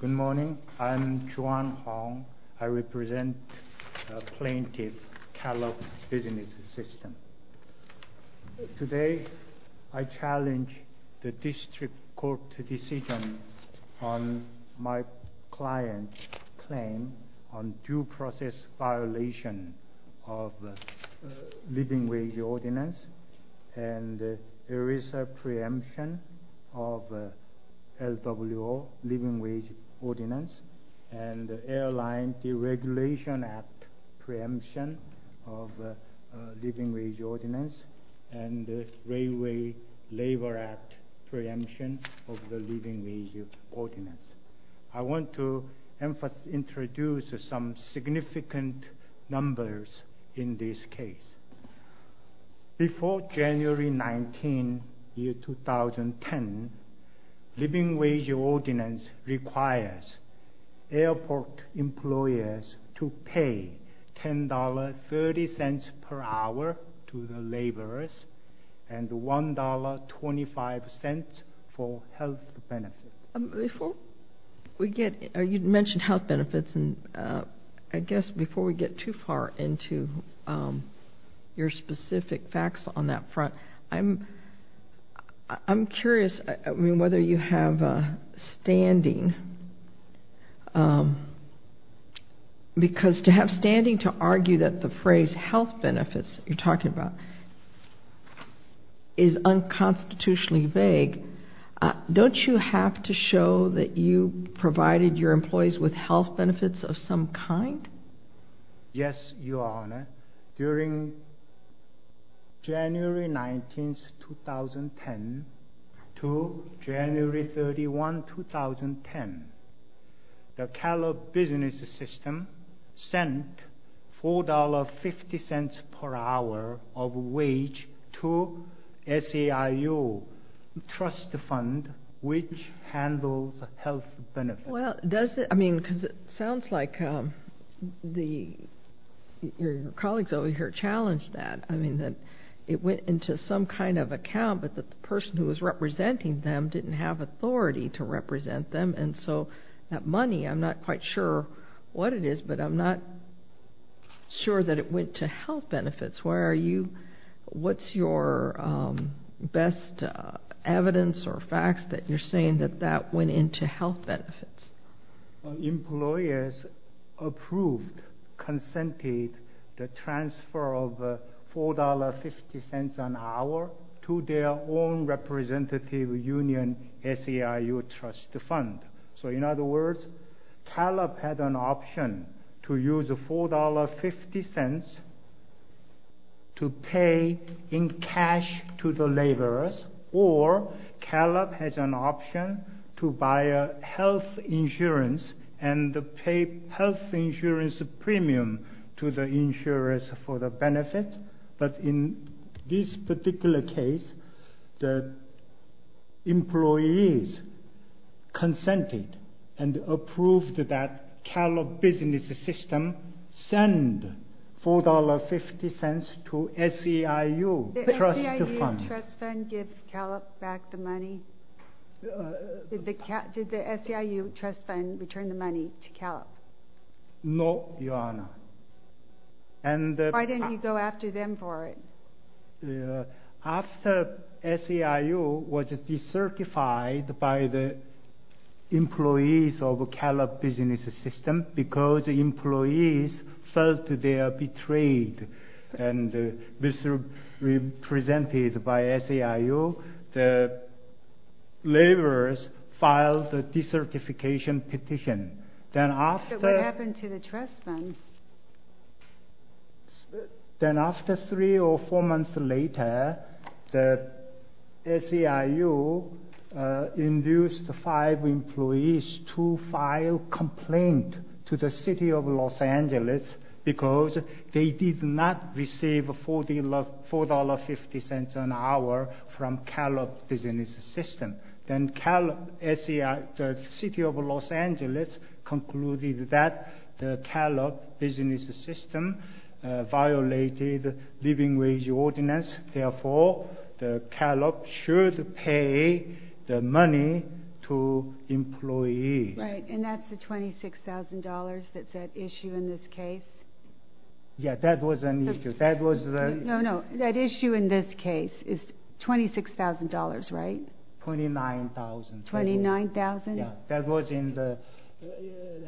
Good morning. I'm Juan Hong. I represent plaintiff Calop Business Systems. Today I challenge the District Court decision on my client's claim on due process violation of living wage ordinance and ERISA preemption of LWO, living wage ordinance, and Airline Deregulation Act preemption of living wage ordinance, and Railway Labor Act preemption of the living wage ordinance. I want to introduce some significant numbers in this case. Before January 19, 2010, living wage ordinance requires airport employers to pay $10.30 per hour to the laborers and $1.25 for health benefits. You mentioned health benefits, and I guess before we get too far into your specific facts on that front, I'm curious, I mean, whether you have standing, because to have standing to argue that the phrase health benefits you're talking about is unconstitutionally vague, don't you have to show that you provided your employees with health benefits of some kind? Yes, Your Honor. During January 19, 2010 to January 31, 2010, the Calop Business Systems sent $4.50 per hour of wage to SEIU Trust Fund, which handles health benefits. Well, does it, I mean, because it sounds like your colleagues over here challenged that. I mean, that it went into some kind of account, but the person who was representing them didn't have authority to represent them, and so that money, I'm not quite sure what it is, but I'm not sure that it went to health benefits. What's your best evidence or facts that you're saying that that went into health benefits? Employers approved, consented the transfer of $4.50 an hour to their own representative union, SEIU Trust Fund. So, in other words, Calop had an option to use $4.50 to pay in cash to the laborers, or Calop has an option to buy health insurance and pay health insurance premium to the insurers for the benefits. But in this particular case, the employees consented and approved that Calop Business Systems sent $4.50 to SEIU Trust Fund. Did SEIU Trust Fund give Calop back the money? Did the SEIU Trust Fund return the money to Calop? No, Your Honor. Why didn't you go after them for it? After SEIU was decertified by the employees of Calop Business Systems, because employees felt they were betrayed and misrepresented by SEIU, the laborers filed a decertification petition. But what happened to the Trust Fund? Then after three or four months later, SEIU induced five employees to file a complaint to the City of Los Angeles because they did not receive $4.50 an hour from Calop Business Systems. Then the City of Los Angeles concluded that Calop Business Systems violated the living wage ordinance. Therefore, Calop should pay the money to employees. Right, and that's the $26,000 that's at issue in this case? Yeah, that was an issue. No, no, that issue in this case is $26,000, right? $29,000. $29,000? Yeah, that was in the,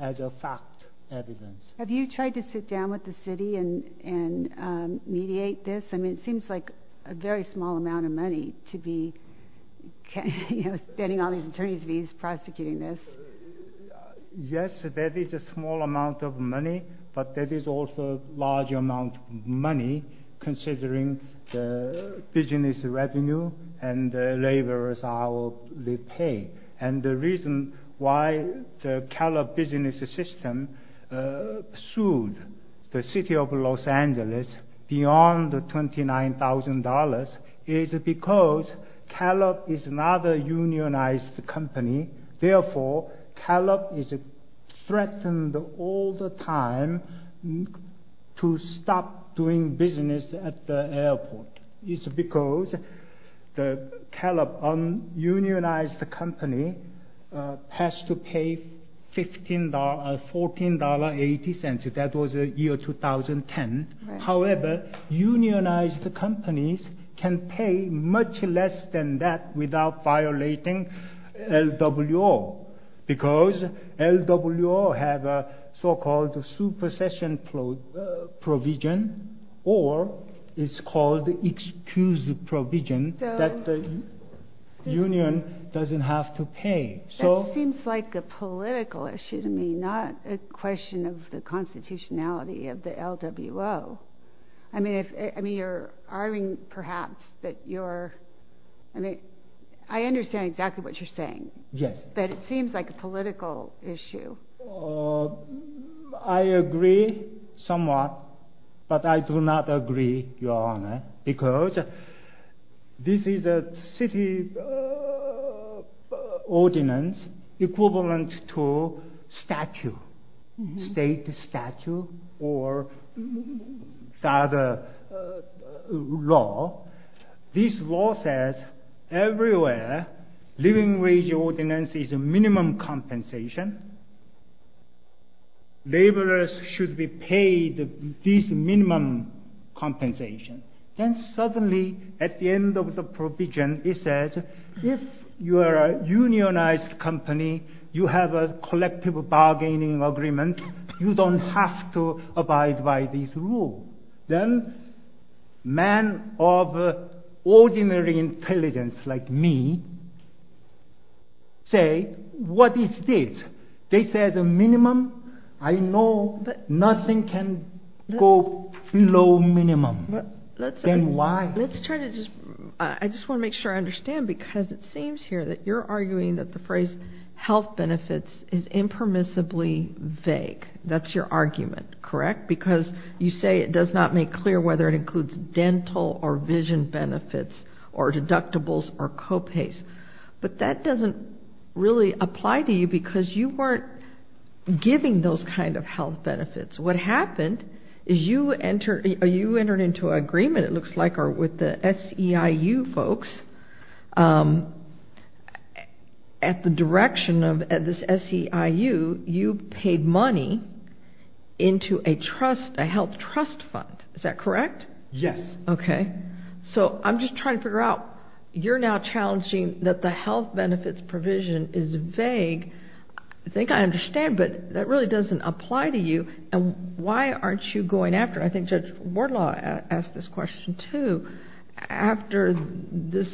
as a fact, evidence. Have you tried to sit down with the City and mediate this? I mean, it seems like a very small amount of money to be, you know, spending all these attorney's fees prosecuting this. Yes, that is a small amount of money, but that is also a large amount of money considering the business revenue and the laborers' hourly pay. And the reason why the Calop Business Systems sued the City of Los Angeles beyond the $29,000 is because Calop is not a unionized company. Therefore, Calop is threatened all the time to stop doing business at the airport. It's because the Calop unionized company has to pay $14.80. That was the year 2010. However, unionized companies can pay much less than that without violating LWO because LWO have a so-called supercession provision or it's called excuse provision that the union doesn't have to pay. That seems like a political issue to me, not a question of the constitutionality of the LWO. I mean, you're arguing perhaps that you're, I mean, I understand exactly what you're saying, but it seems like a political issue. I agree somewhat, but I do not agree, Your Honor, because this is a city ordinance equivalent to statute, state statute or other law. This law says everywhere living wage ordinance is a minimum compensation. Laborers should be paid this minimum compensation. Then suddenly, at the end of the provision, it says if you are a unionized company, you have a collective bargaining agreement, you don't have to abide by this rule. Then men of ordinary intelligence like me say, what is this? They say it's a minimum. I know nothing can go below minimum. Then why? Let's try to just, I just want to make sure I understand because it seems here that you're arguing that the phrase health benefits is impermissibly vague. That's your argument, correct? Because you say it does not make clear whether it includes dental or vision benefits or deductibles or co-pays. But that doesn't really apply to you because you weren't giving those kind of health benefits. What happened is you entered into an agreement, it looks like, with the SEIU folks. At the direction of this SEIU, you paid money into a health trust fund. Is that correct? Yes. Okay. So I'm just trying to figure out, you're now challenging that the health benefits provision is vague. I think I understand, but that really doesn't apply to you. Why aren't you going after, I think Judge Wardlaw asked this question too, after this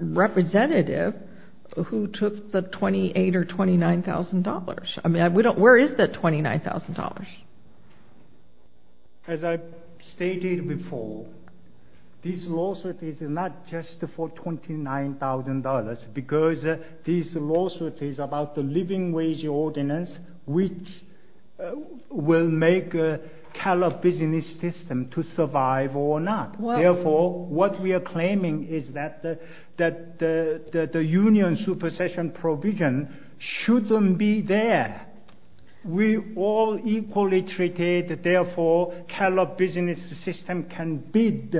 representative who took the $28,000 or $29,000. I mean, where is that $29,000? As I stated before, this lawsuit is not just for $29,000 because this lawsuit is about the living wage ordinance, which will make a callous business system to survive or not. Therefore, callous business system can bid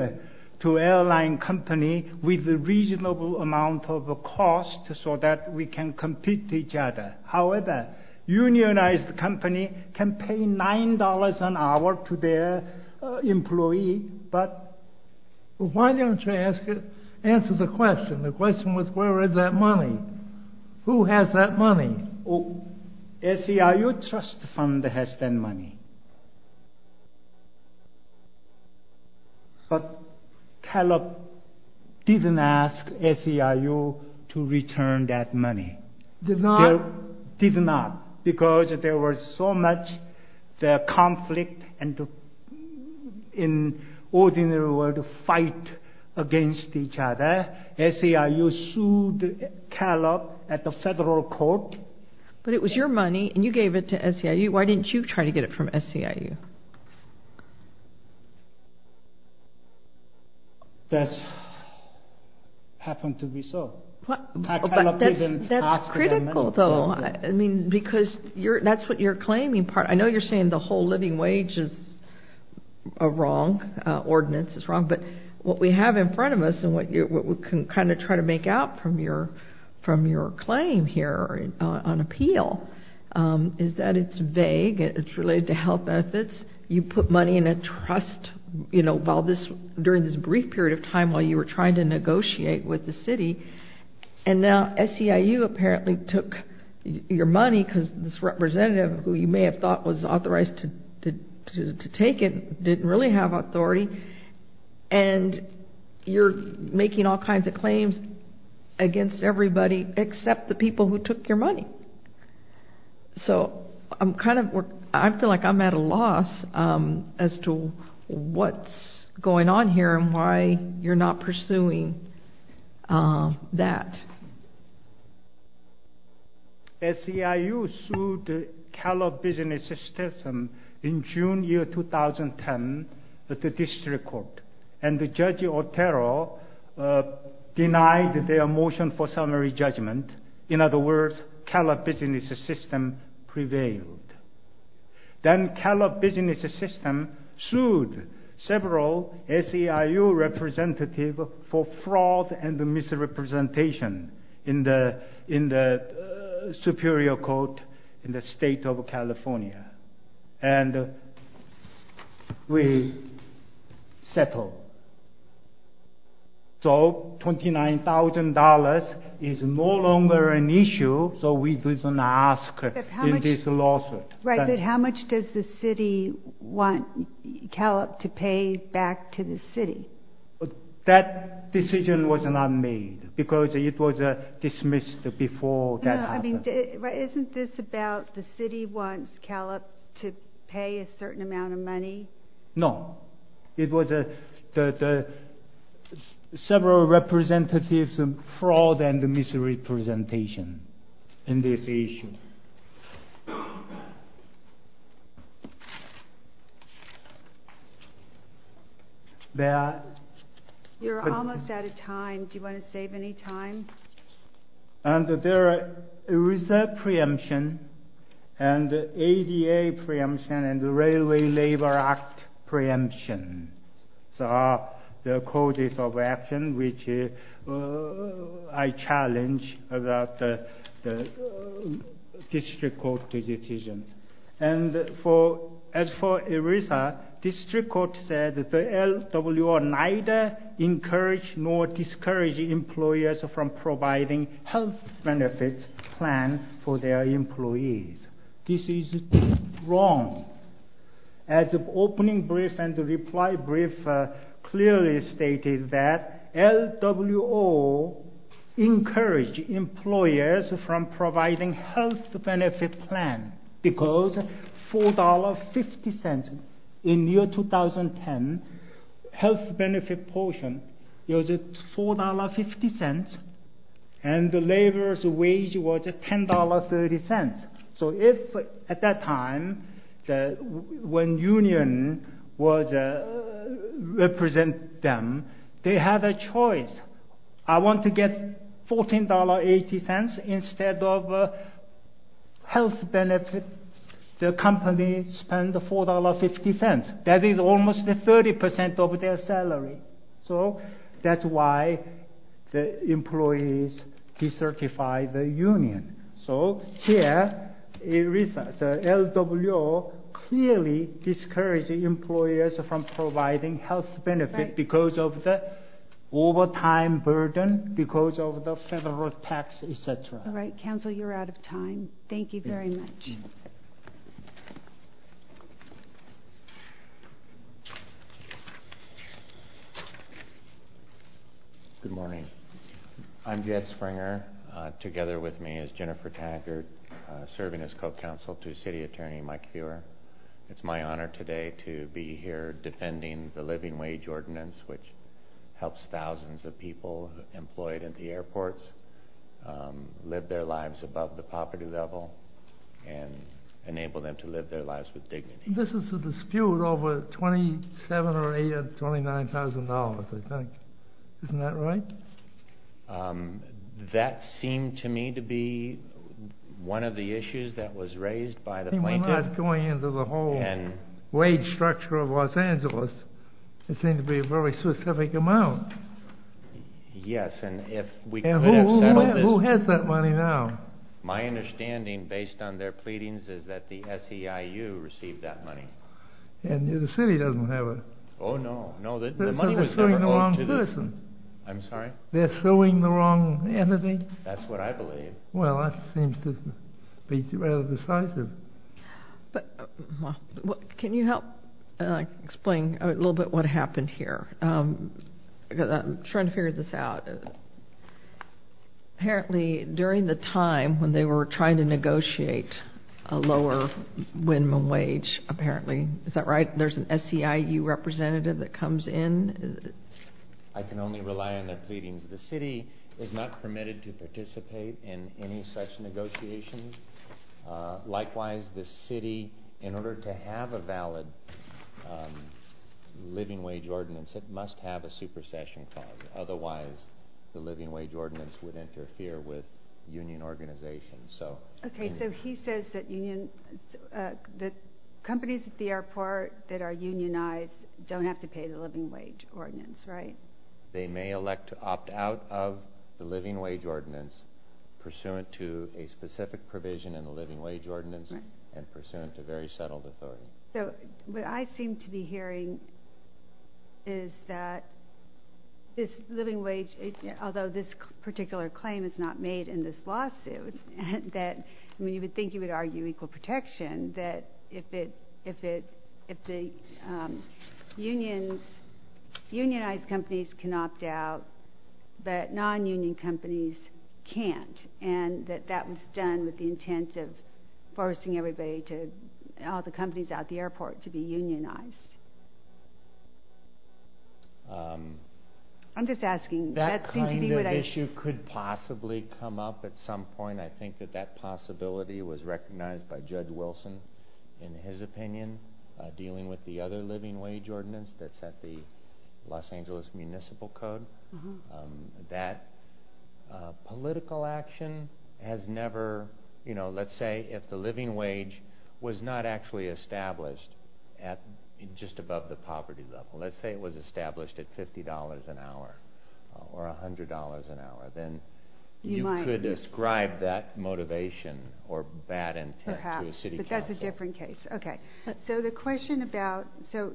to airline company with a reasonable amount of cost so that we can compete with each other. However, unionized company can pay $9 an hour to their employee. Why don't you answer the question? The question was where is that money? Who has that money? SEIU trust fund has that money. But Caleb didn't ask SEIU to return that money. Did not? Caleb did not because there was so much conflict and in ordinary world fight against each other. SEIU sued Caleb at the federal court. But it was your money and you gave it to SEIU. Why didn't you try to get it from SEIU? That's happened to be so. But that's critical though. I mean, because that's what you're claiming part. I know you're saying the whole living wage is wrong, ordinance is wrong, but what we have in front of us and what we can kind of try to make out from your claim here on appeal is that it's vague. It's related to health benefits. You put money in a trust during this brief period of time while you were trying to negotiate with the city. And now SEIU apparently took your money because this representative who you may have thought was authorized to take it didn't really have authority. And you're making all kinds of claims against everybody except the people who took your money. So I'm kind of, I feel like I'm at a loss as to what's going on here and why you're not pursuing that. SEIU sued Caleb Business System in June 2010 at the district court. And Judge Otero denied their motion for summary judgment. In other words, Caleb Business System prevailed. Then Caleb Business System sued several SEIU representatives for fraud and misrepresentation in the Superior Court in the state of California. And we settled. So $29,000 is no longer an issue, so we didn't ask in this lawsuit. Right, but how much does the city want Caleb to pay back to the city? That decision was not made because it was dismissed before that happened. Isn't this about the city wants Caleb to pay a certain amount of money? No. It was several representatives' fraud and misrepresentation in this issue. You're almost out of time. Do you want to save any time? And there are ERISA preemption and ADA preemption and the Railway Labor Act preemption. So there are causes of action which I challenge about the district court decision. And as for ERISA, district court said the LWO neither encouraged nor discouraged employers from providing health benefits plan for their employees. This is wrong. As opening brief and reply brief clearly stated that LWO encouraged employers from providing health benefit plan because $4.50 in year 2010 health benefit portion was $4.50 and labor's wage was $10.30. So if at that time when union would represent them, they had a choice. I want to get $14.80 instead of health benefit. The company spent $4.50. That is almost 30% of their salary. So that's why the employees decertified the union. So here ERISA, the LWO clearly discouraged employers from providing health benefit because of the overtime burden, because of the federal tax, etc. All right. Counsel, you're out of time. Thank you very much. Good morning. I'm Jed Springer. Together with me is Jennifer Taggart, serving as co-counsel to city attorney Mike Feuer. It's my honor today to be here defending the living wage ordinance, which helps thousands of people employed at the airports live their lives above the poverty level and enable them to live their lives with dignity. This is a dispute over $27,000 or $29,000, I think. Isn't that right? That seemed to me to be one of the issues that was raised by the plaintiff. We're not going into the whole wage structure of Los Angeles. It seemed to be a very specific amount. Yes, and if we could have settled this... Who has that money now? My understanding, based on their pleadings, is that the SEIU received that money. The city doesn't have it. Oh, no. They're suing the wrong person. I'm sorry? They're suing the wrong entity. That's what I believe. Well, that seems to be rather decisive. Can you help explain a little bit what happened here? I'm trying to figure this out. Apparently, during the time when they were trying to negotiate a lower minimum wage, is that right, there's an SEIU representative that comes in? I can only rely on their pleadings. The city is not permitted to participate in any such negotiations. Likewise, the city, in order to have a valid living wage ordinance, it must have a supersession clause. Otherwise, the living wage ordinance would interfere with union organization. Okay, so he says that companies at the airport that are unionized don't have to pay the living wage ordinance, right? They may elect to opt out of the living wage ordinance pursuant to a specific provision in the living wage ordinance and pursuant to very settled authority. So what I seem to be hearing is that this living wage, although this particular claim is not made in this lawsuit, that you would think you would argue equal protection, that if the unionized companies can opt out, but non-union companies can't, and that that was done with the intent of forcing all the companies at the airport to be unionized. I'm just asking. That kind of issue could possibly come up at some point. I think that that possibility was recognized by Judge Wilson in his opinion, dealing with the other living wage ordinance that's at the Los Angeles Municipal Code. That political action has never, you know, let's say if the living wage was not actually established at just above the poverty level, let's say it was established at $50 an hour or $100 an hour, then you could ascribe that motivation or bad intent to a city council. That's a different case. Okay. So the question about, so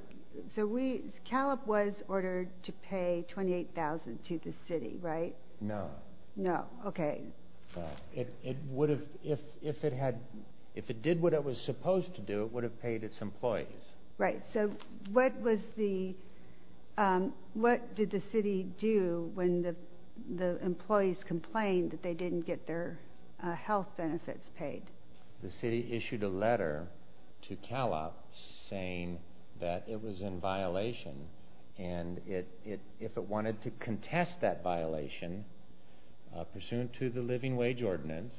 we, CALIP was ordered to pay $28,000 to the city, right? No. No. Okay. It would have, if it had, if it did what it was supposed to do, it would have paid its employees. Right. So what was the, what did the city do when the employees complained that they didn't get their health benefits paid? The city issued a letter to CALIP saying that it was in violation and if it wanted to contest that violation, pursuant to the living wage ordinance,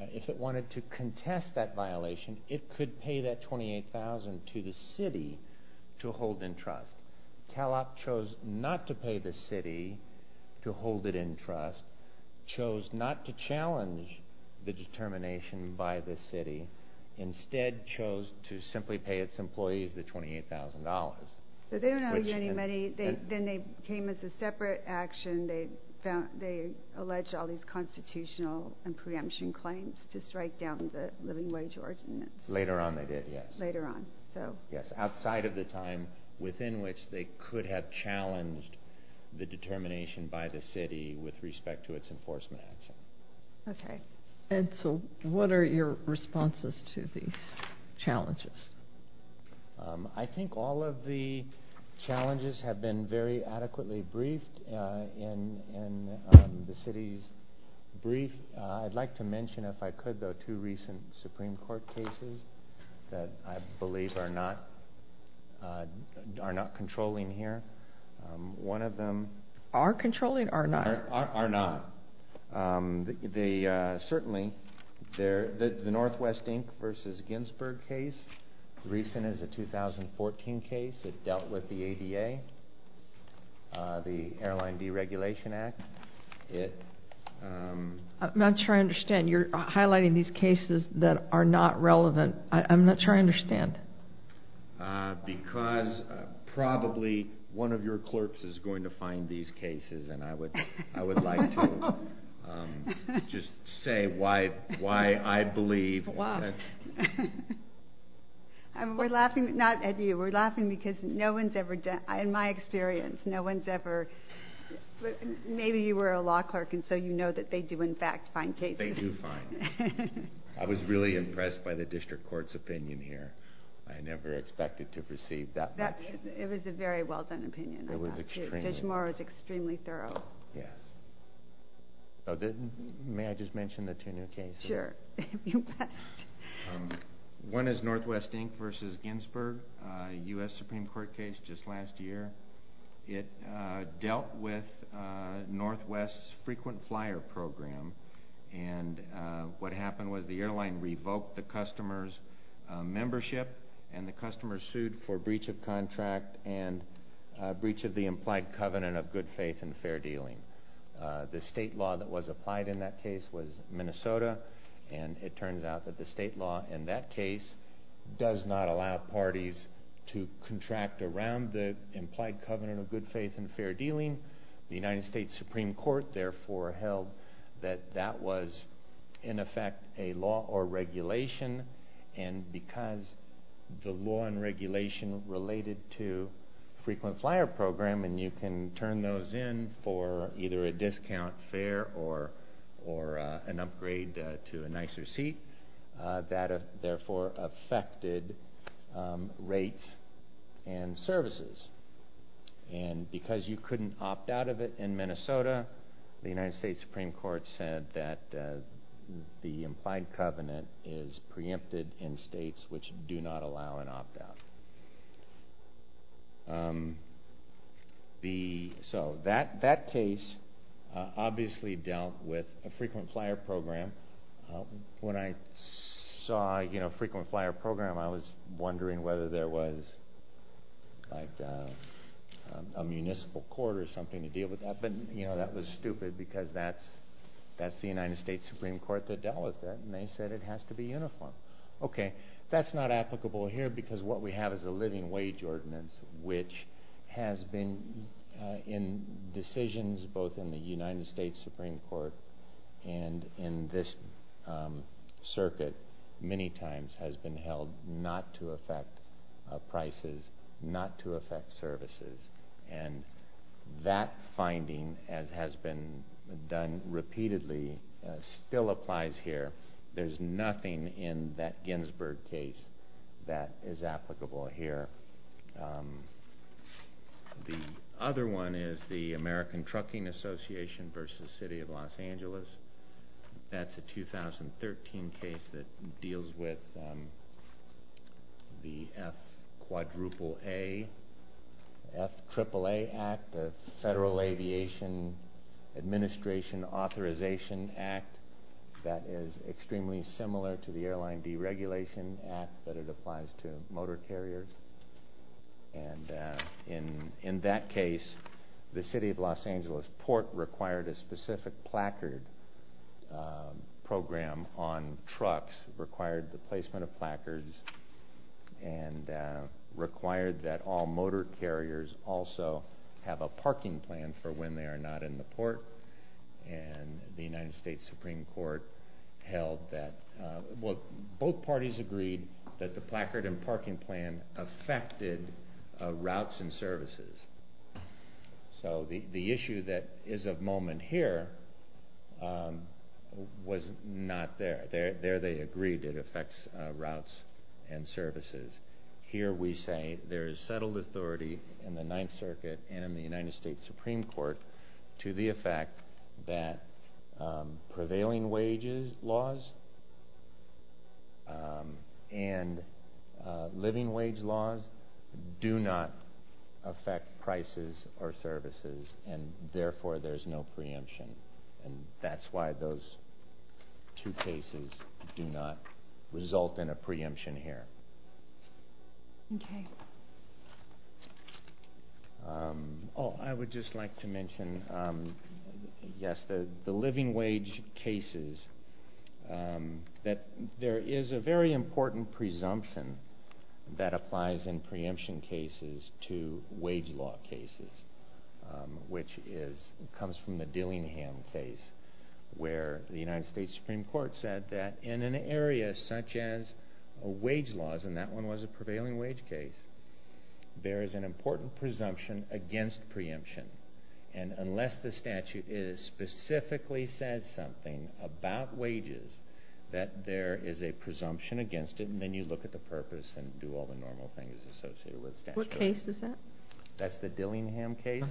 if it wanted to contest that violation, it could pay that $28,000 to the city to hold in trust. CALIP chose not to pay the city to hold it in trust, chose not to challenge the determination by the city, instead chose to simply pay its employees the $28,000. But they don't owe you any money. Then they came as a separate action. They found, they alleged all these constitutional and preemption claims to strike down the living wage ordinance. Later on they did, yes. Later on, so. Yes, outside of the time within which they could have challenged the determination by the city with respect to its enforcement action. Okay. Edsel, what are your responses to these challenges? I think all of the challenges have been very adequately briefed in the city's brief. I'd like to mention, if I could, though, two recent Supreme Court cases that I believe are not controlling here. One of them. Are controlling or not? Are not. Certainly, the Northwest Inc. versus Ginsburg case, recent as a 2014 case, it dealt with the ADA, the Airline Deregulation Act. I'm not sure I understand. You're highlighting these cases that are not relevant. I'm not sure I understand. Because probably one of your clerks is going to find these cases, and I would like to just say why I believe. Why? We're laughing, not at you. We're laughing because no one's ever done, in my experience, no one's ever, maybe you were a law clerk and so you know that they do, in fact, find cases. They do find. I was really impressed by the district court's opinion here. I never expected to perceive that much. It was a very well done opinion. It was extremely. Judge Morrow is extremely thorough. Yes. May I just mention the two new cases? Sure. One is Northwest Inc. versus Ginsburg, a U.S. Supreme Court case just last year. It dealt with Northwest's frequent flyer program, and what happened was the airline revoked the customer's membership, and the customer sued for breach of contract and breach of the implied covenant of good faith and fair dealing. The state law that was applied in that case was Minnesota, and it turns out that the state law in that case does not allow parties to contract around the implied covenant of good faith and fair dealing. The United States Supreme Court, therefore, held that that was, in effect, a law or regulation, and because the law and regulation related to frequent flyer program, and you can turn those in for either a discount fare or an upgrade to a nicer seat, that therefore affected rates and services, and because you couldn't opt out of it in Minnesota, the United States Supreme Court said that the implied covenant is preempted in states which do not allow an opt-out. So that case obviously dealt with a frequent flyer program. When I saw a frequent flyer program, I was wondering whether there was a municipal court or something to deal with that, but that was stupid because that's the United States Supreme Court that dealt with that, and they said it has to be uniform. Okay, that's not applicable here because what we have is a living wage ordinance, which has been in decisions both in the United States Supreme Court and in this circuit many times has been held not to affect prices, not to affect services, and that finding, as has been done repeatedly, still applies here. There's nothing in that Ginsburg case that is applicable here. The other one is the American Trucking Association v. City of Los Angeles. That's a 2013 case that deals with the FAAA Act, the Federal Aviation Administration Authorization Act, that is extremely similar to the Airline Deregulation Act, but it applies to motor carriers, and in that case, the City of Los Angeles Port required a specific placard program on trucks, required the placement of placards, and required that all motor carriers also have a parking plan for when they are not in the port, and the United States Supreme Court held that both parties agreed that the placard and parking plan affected routes and services. So the issue that is of moment here was not there. There they agreed it affects routes and services. Here we say there is settled authority in the Ninth Circuit and in the United States Supreme Court to the effect that prevailing wages laws and living wage laws do not affect prices or services, and therefore there is no preemption, and that's why those two cases do not result in a preemption here. I would just like to mention, yes, the living wage cases, that there is a very important presumption that applies in preemption cases to wage law cases, which comes from the Dillingham case, where the United States Supreme Court said that in an area such as wage laws, and that one was a prevailing wage case, there is an important presumption against preemption, and unless the statute specifically says something about wages, that there is a presumption against it, and then you look at the purpose and do all the normal things associated with statute. What case is that? That's the Dillingham case,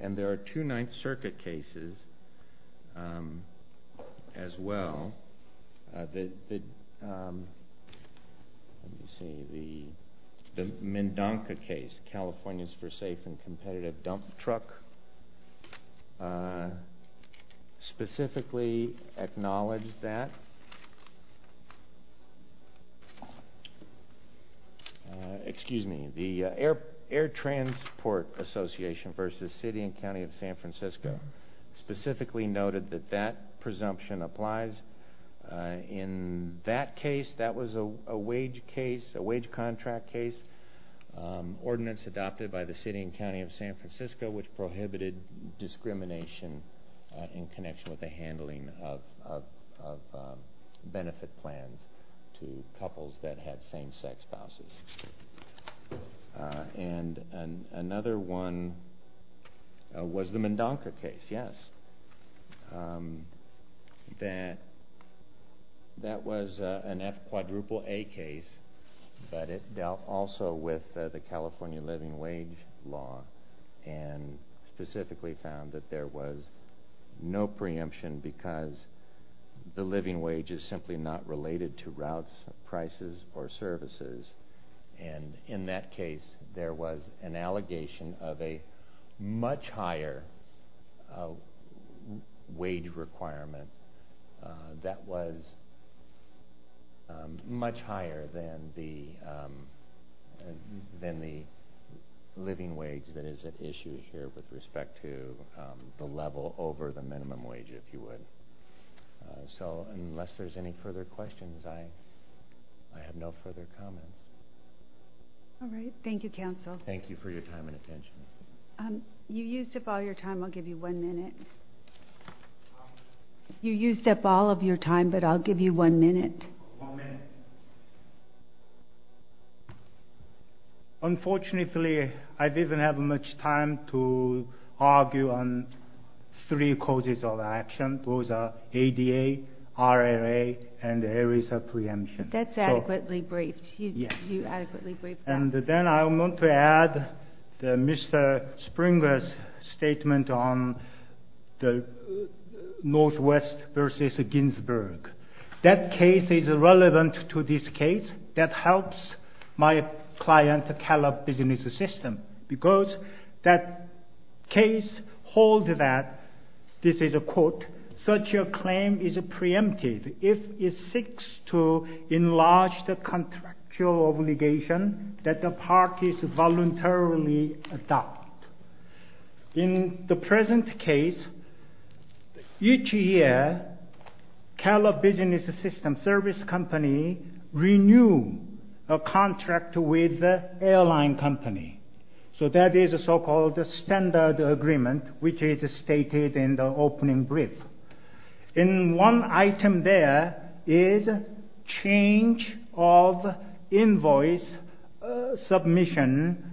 and there are two Ninth Circuit cases as well. The Mendonca case, California's for Safe and Competitive Dump Truck, specifically acknowledged that, excuse me, the Air Transport Association versus City and County of San Francisco, specifically noted that that presumption applies. In that case, that was a wage case, a wage contract case, ordinance adopted by the City and County of San Francisco, which prohibited discrimination in connection with the handling of benefit plans to couples that had same-sex spouses. And another one was the Mendonca case, yes. That was an F quadruple A case, but it dealt also with the California living wage law, and specifically found that there was no preemption because the living wage is simply not related to routes, prices, or services, and in that case, there was an allegation of a much higher wage requirement that was much higher than the living wage that is at issue here with respect to the level over the minimum wage, if you would. So unless there's any further questions, I have no further comments. All right, thank you, counsel. Thank you for your time and attention. You used up all your time. I'll give you one minute. You used up all of your time, but I'll give you one minute. One minute. Unfortunately, I didn't have much time to argue on three causes of action. Those are ADA, RLA, and the areas of preemption. That's adequately briefed. You adequately briefed that. And then I want to add Mr. Springer's statement on the Northwest versus Ginsburg. That case is relevant to this case. That helps my client, Calab Business System, because that case holds that, this is a quote, such a claim is preempted if it seeks to enlarge the contractual obligation that the parties voluntarily adopt. In the present case, each year, Calab Business System service company renew a contract with airline company. So that is a so-called standard agreement, which is stated in the opening brief. And one item there is change of invoice submission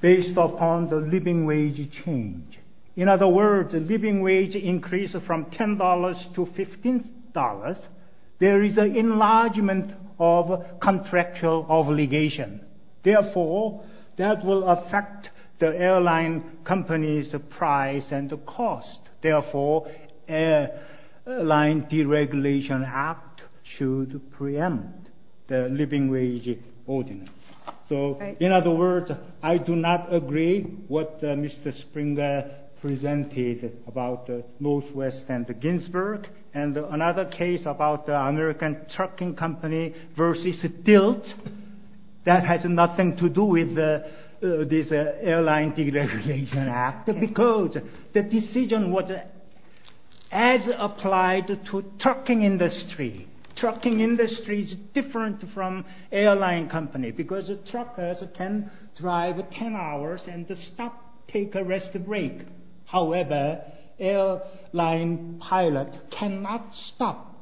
based upon the living wage change. In other words, living wage increase from $10 to $15, there is an enlargement of contractual obligation. Therefore, that will affect the airline company's price and cost. Therefore, Airline Deregulation Act should preempt the living wage ordinance. So, in other words, I do not agree what Mr. Springer presented about Northwest and Ginsburg. And another case about American Trucking Company versus DILT, that has nothing to do with this Airline Deregulation Act. Because the decision was as applied to trucking industry. Trucking industry is different from airline company because truckers can drive 10 hours and stop, take a rest break. However, airline pilot cannot stop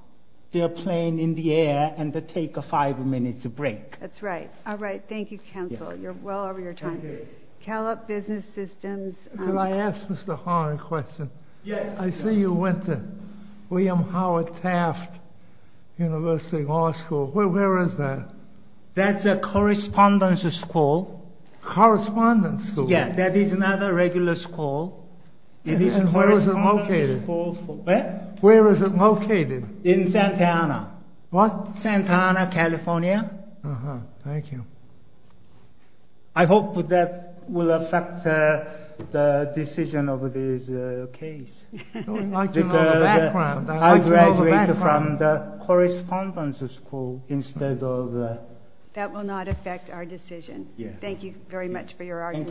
their plane in the air and take a five minutes break. That's right. All right. Thank you, counsel. You're well over your time. Callup Business Systems. Can I ask Mr. Hong a question? Yes. I see you went to William Howard Taft University Law School. Where is that? That's a correspondence school. Correspondence school? Yeah, that is not a regular school. And where is it located? Where? Where is it located? In Santa Ana. What? Santa Ana, California. Uh-huh. Thank you. I hope that will affect the decision of this case. I graduated from the correspondence school instead of... That will not affect our decision. Thank you very much for your argument.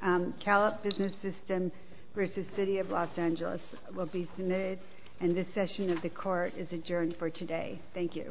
Thank you. Callup Business System versus City of Los Angeles will be submitted and this session of the court is adjourned for today. Thank you.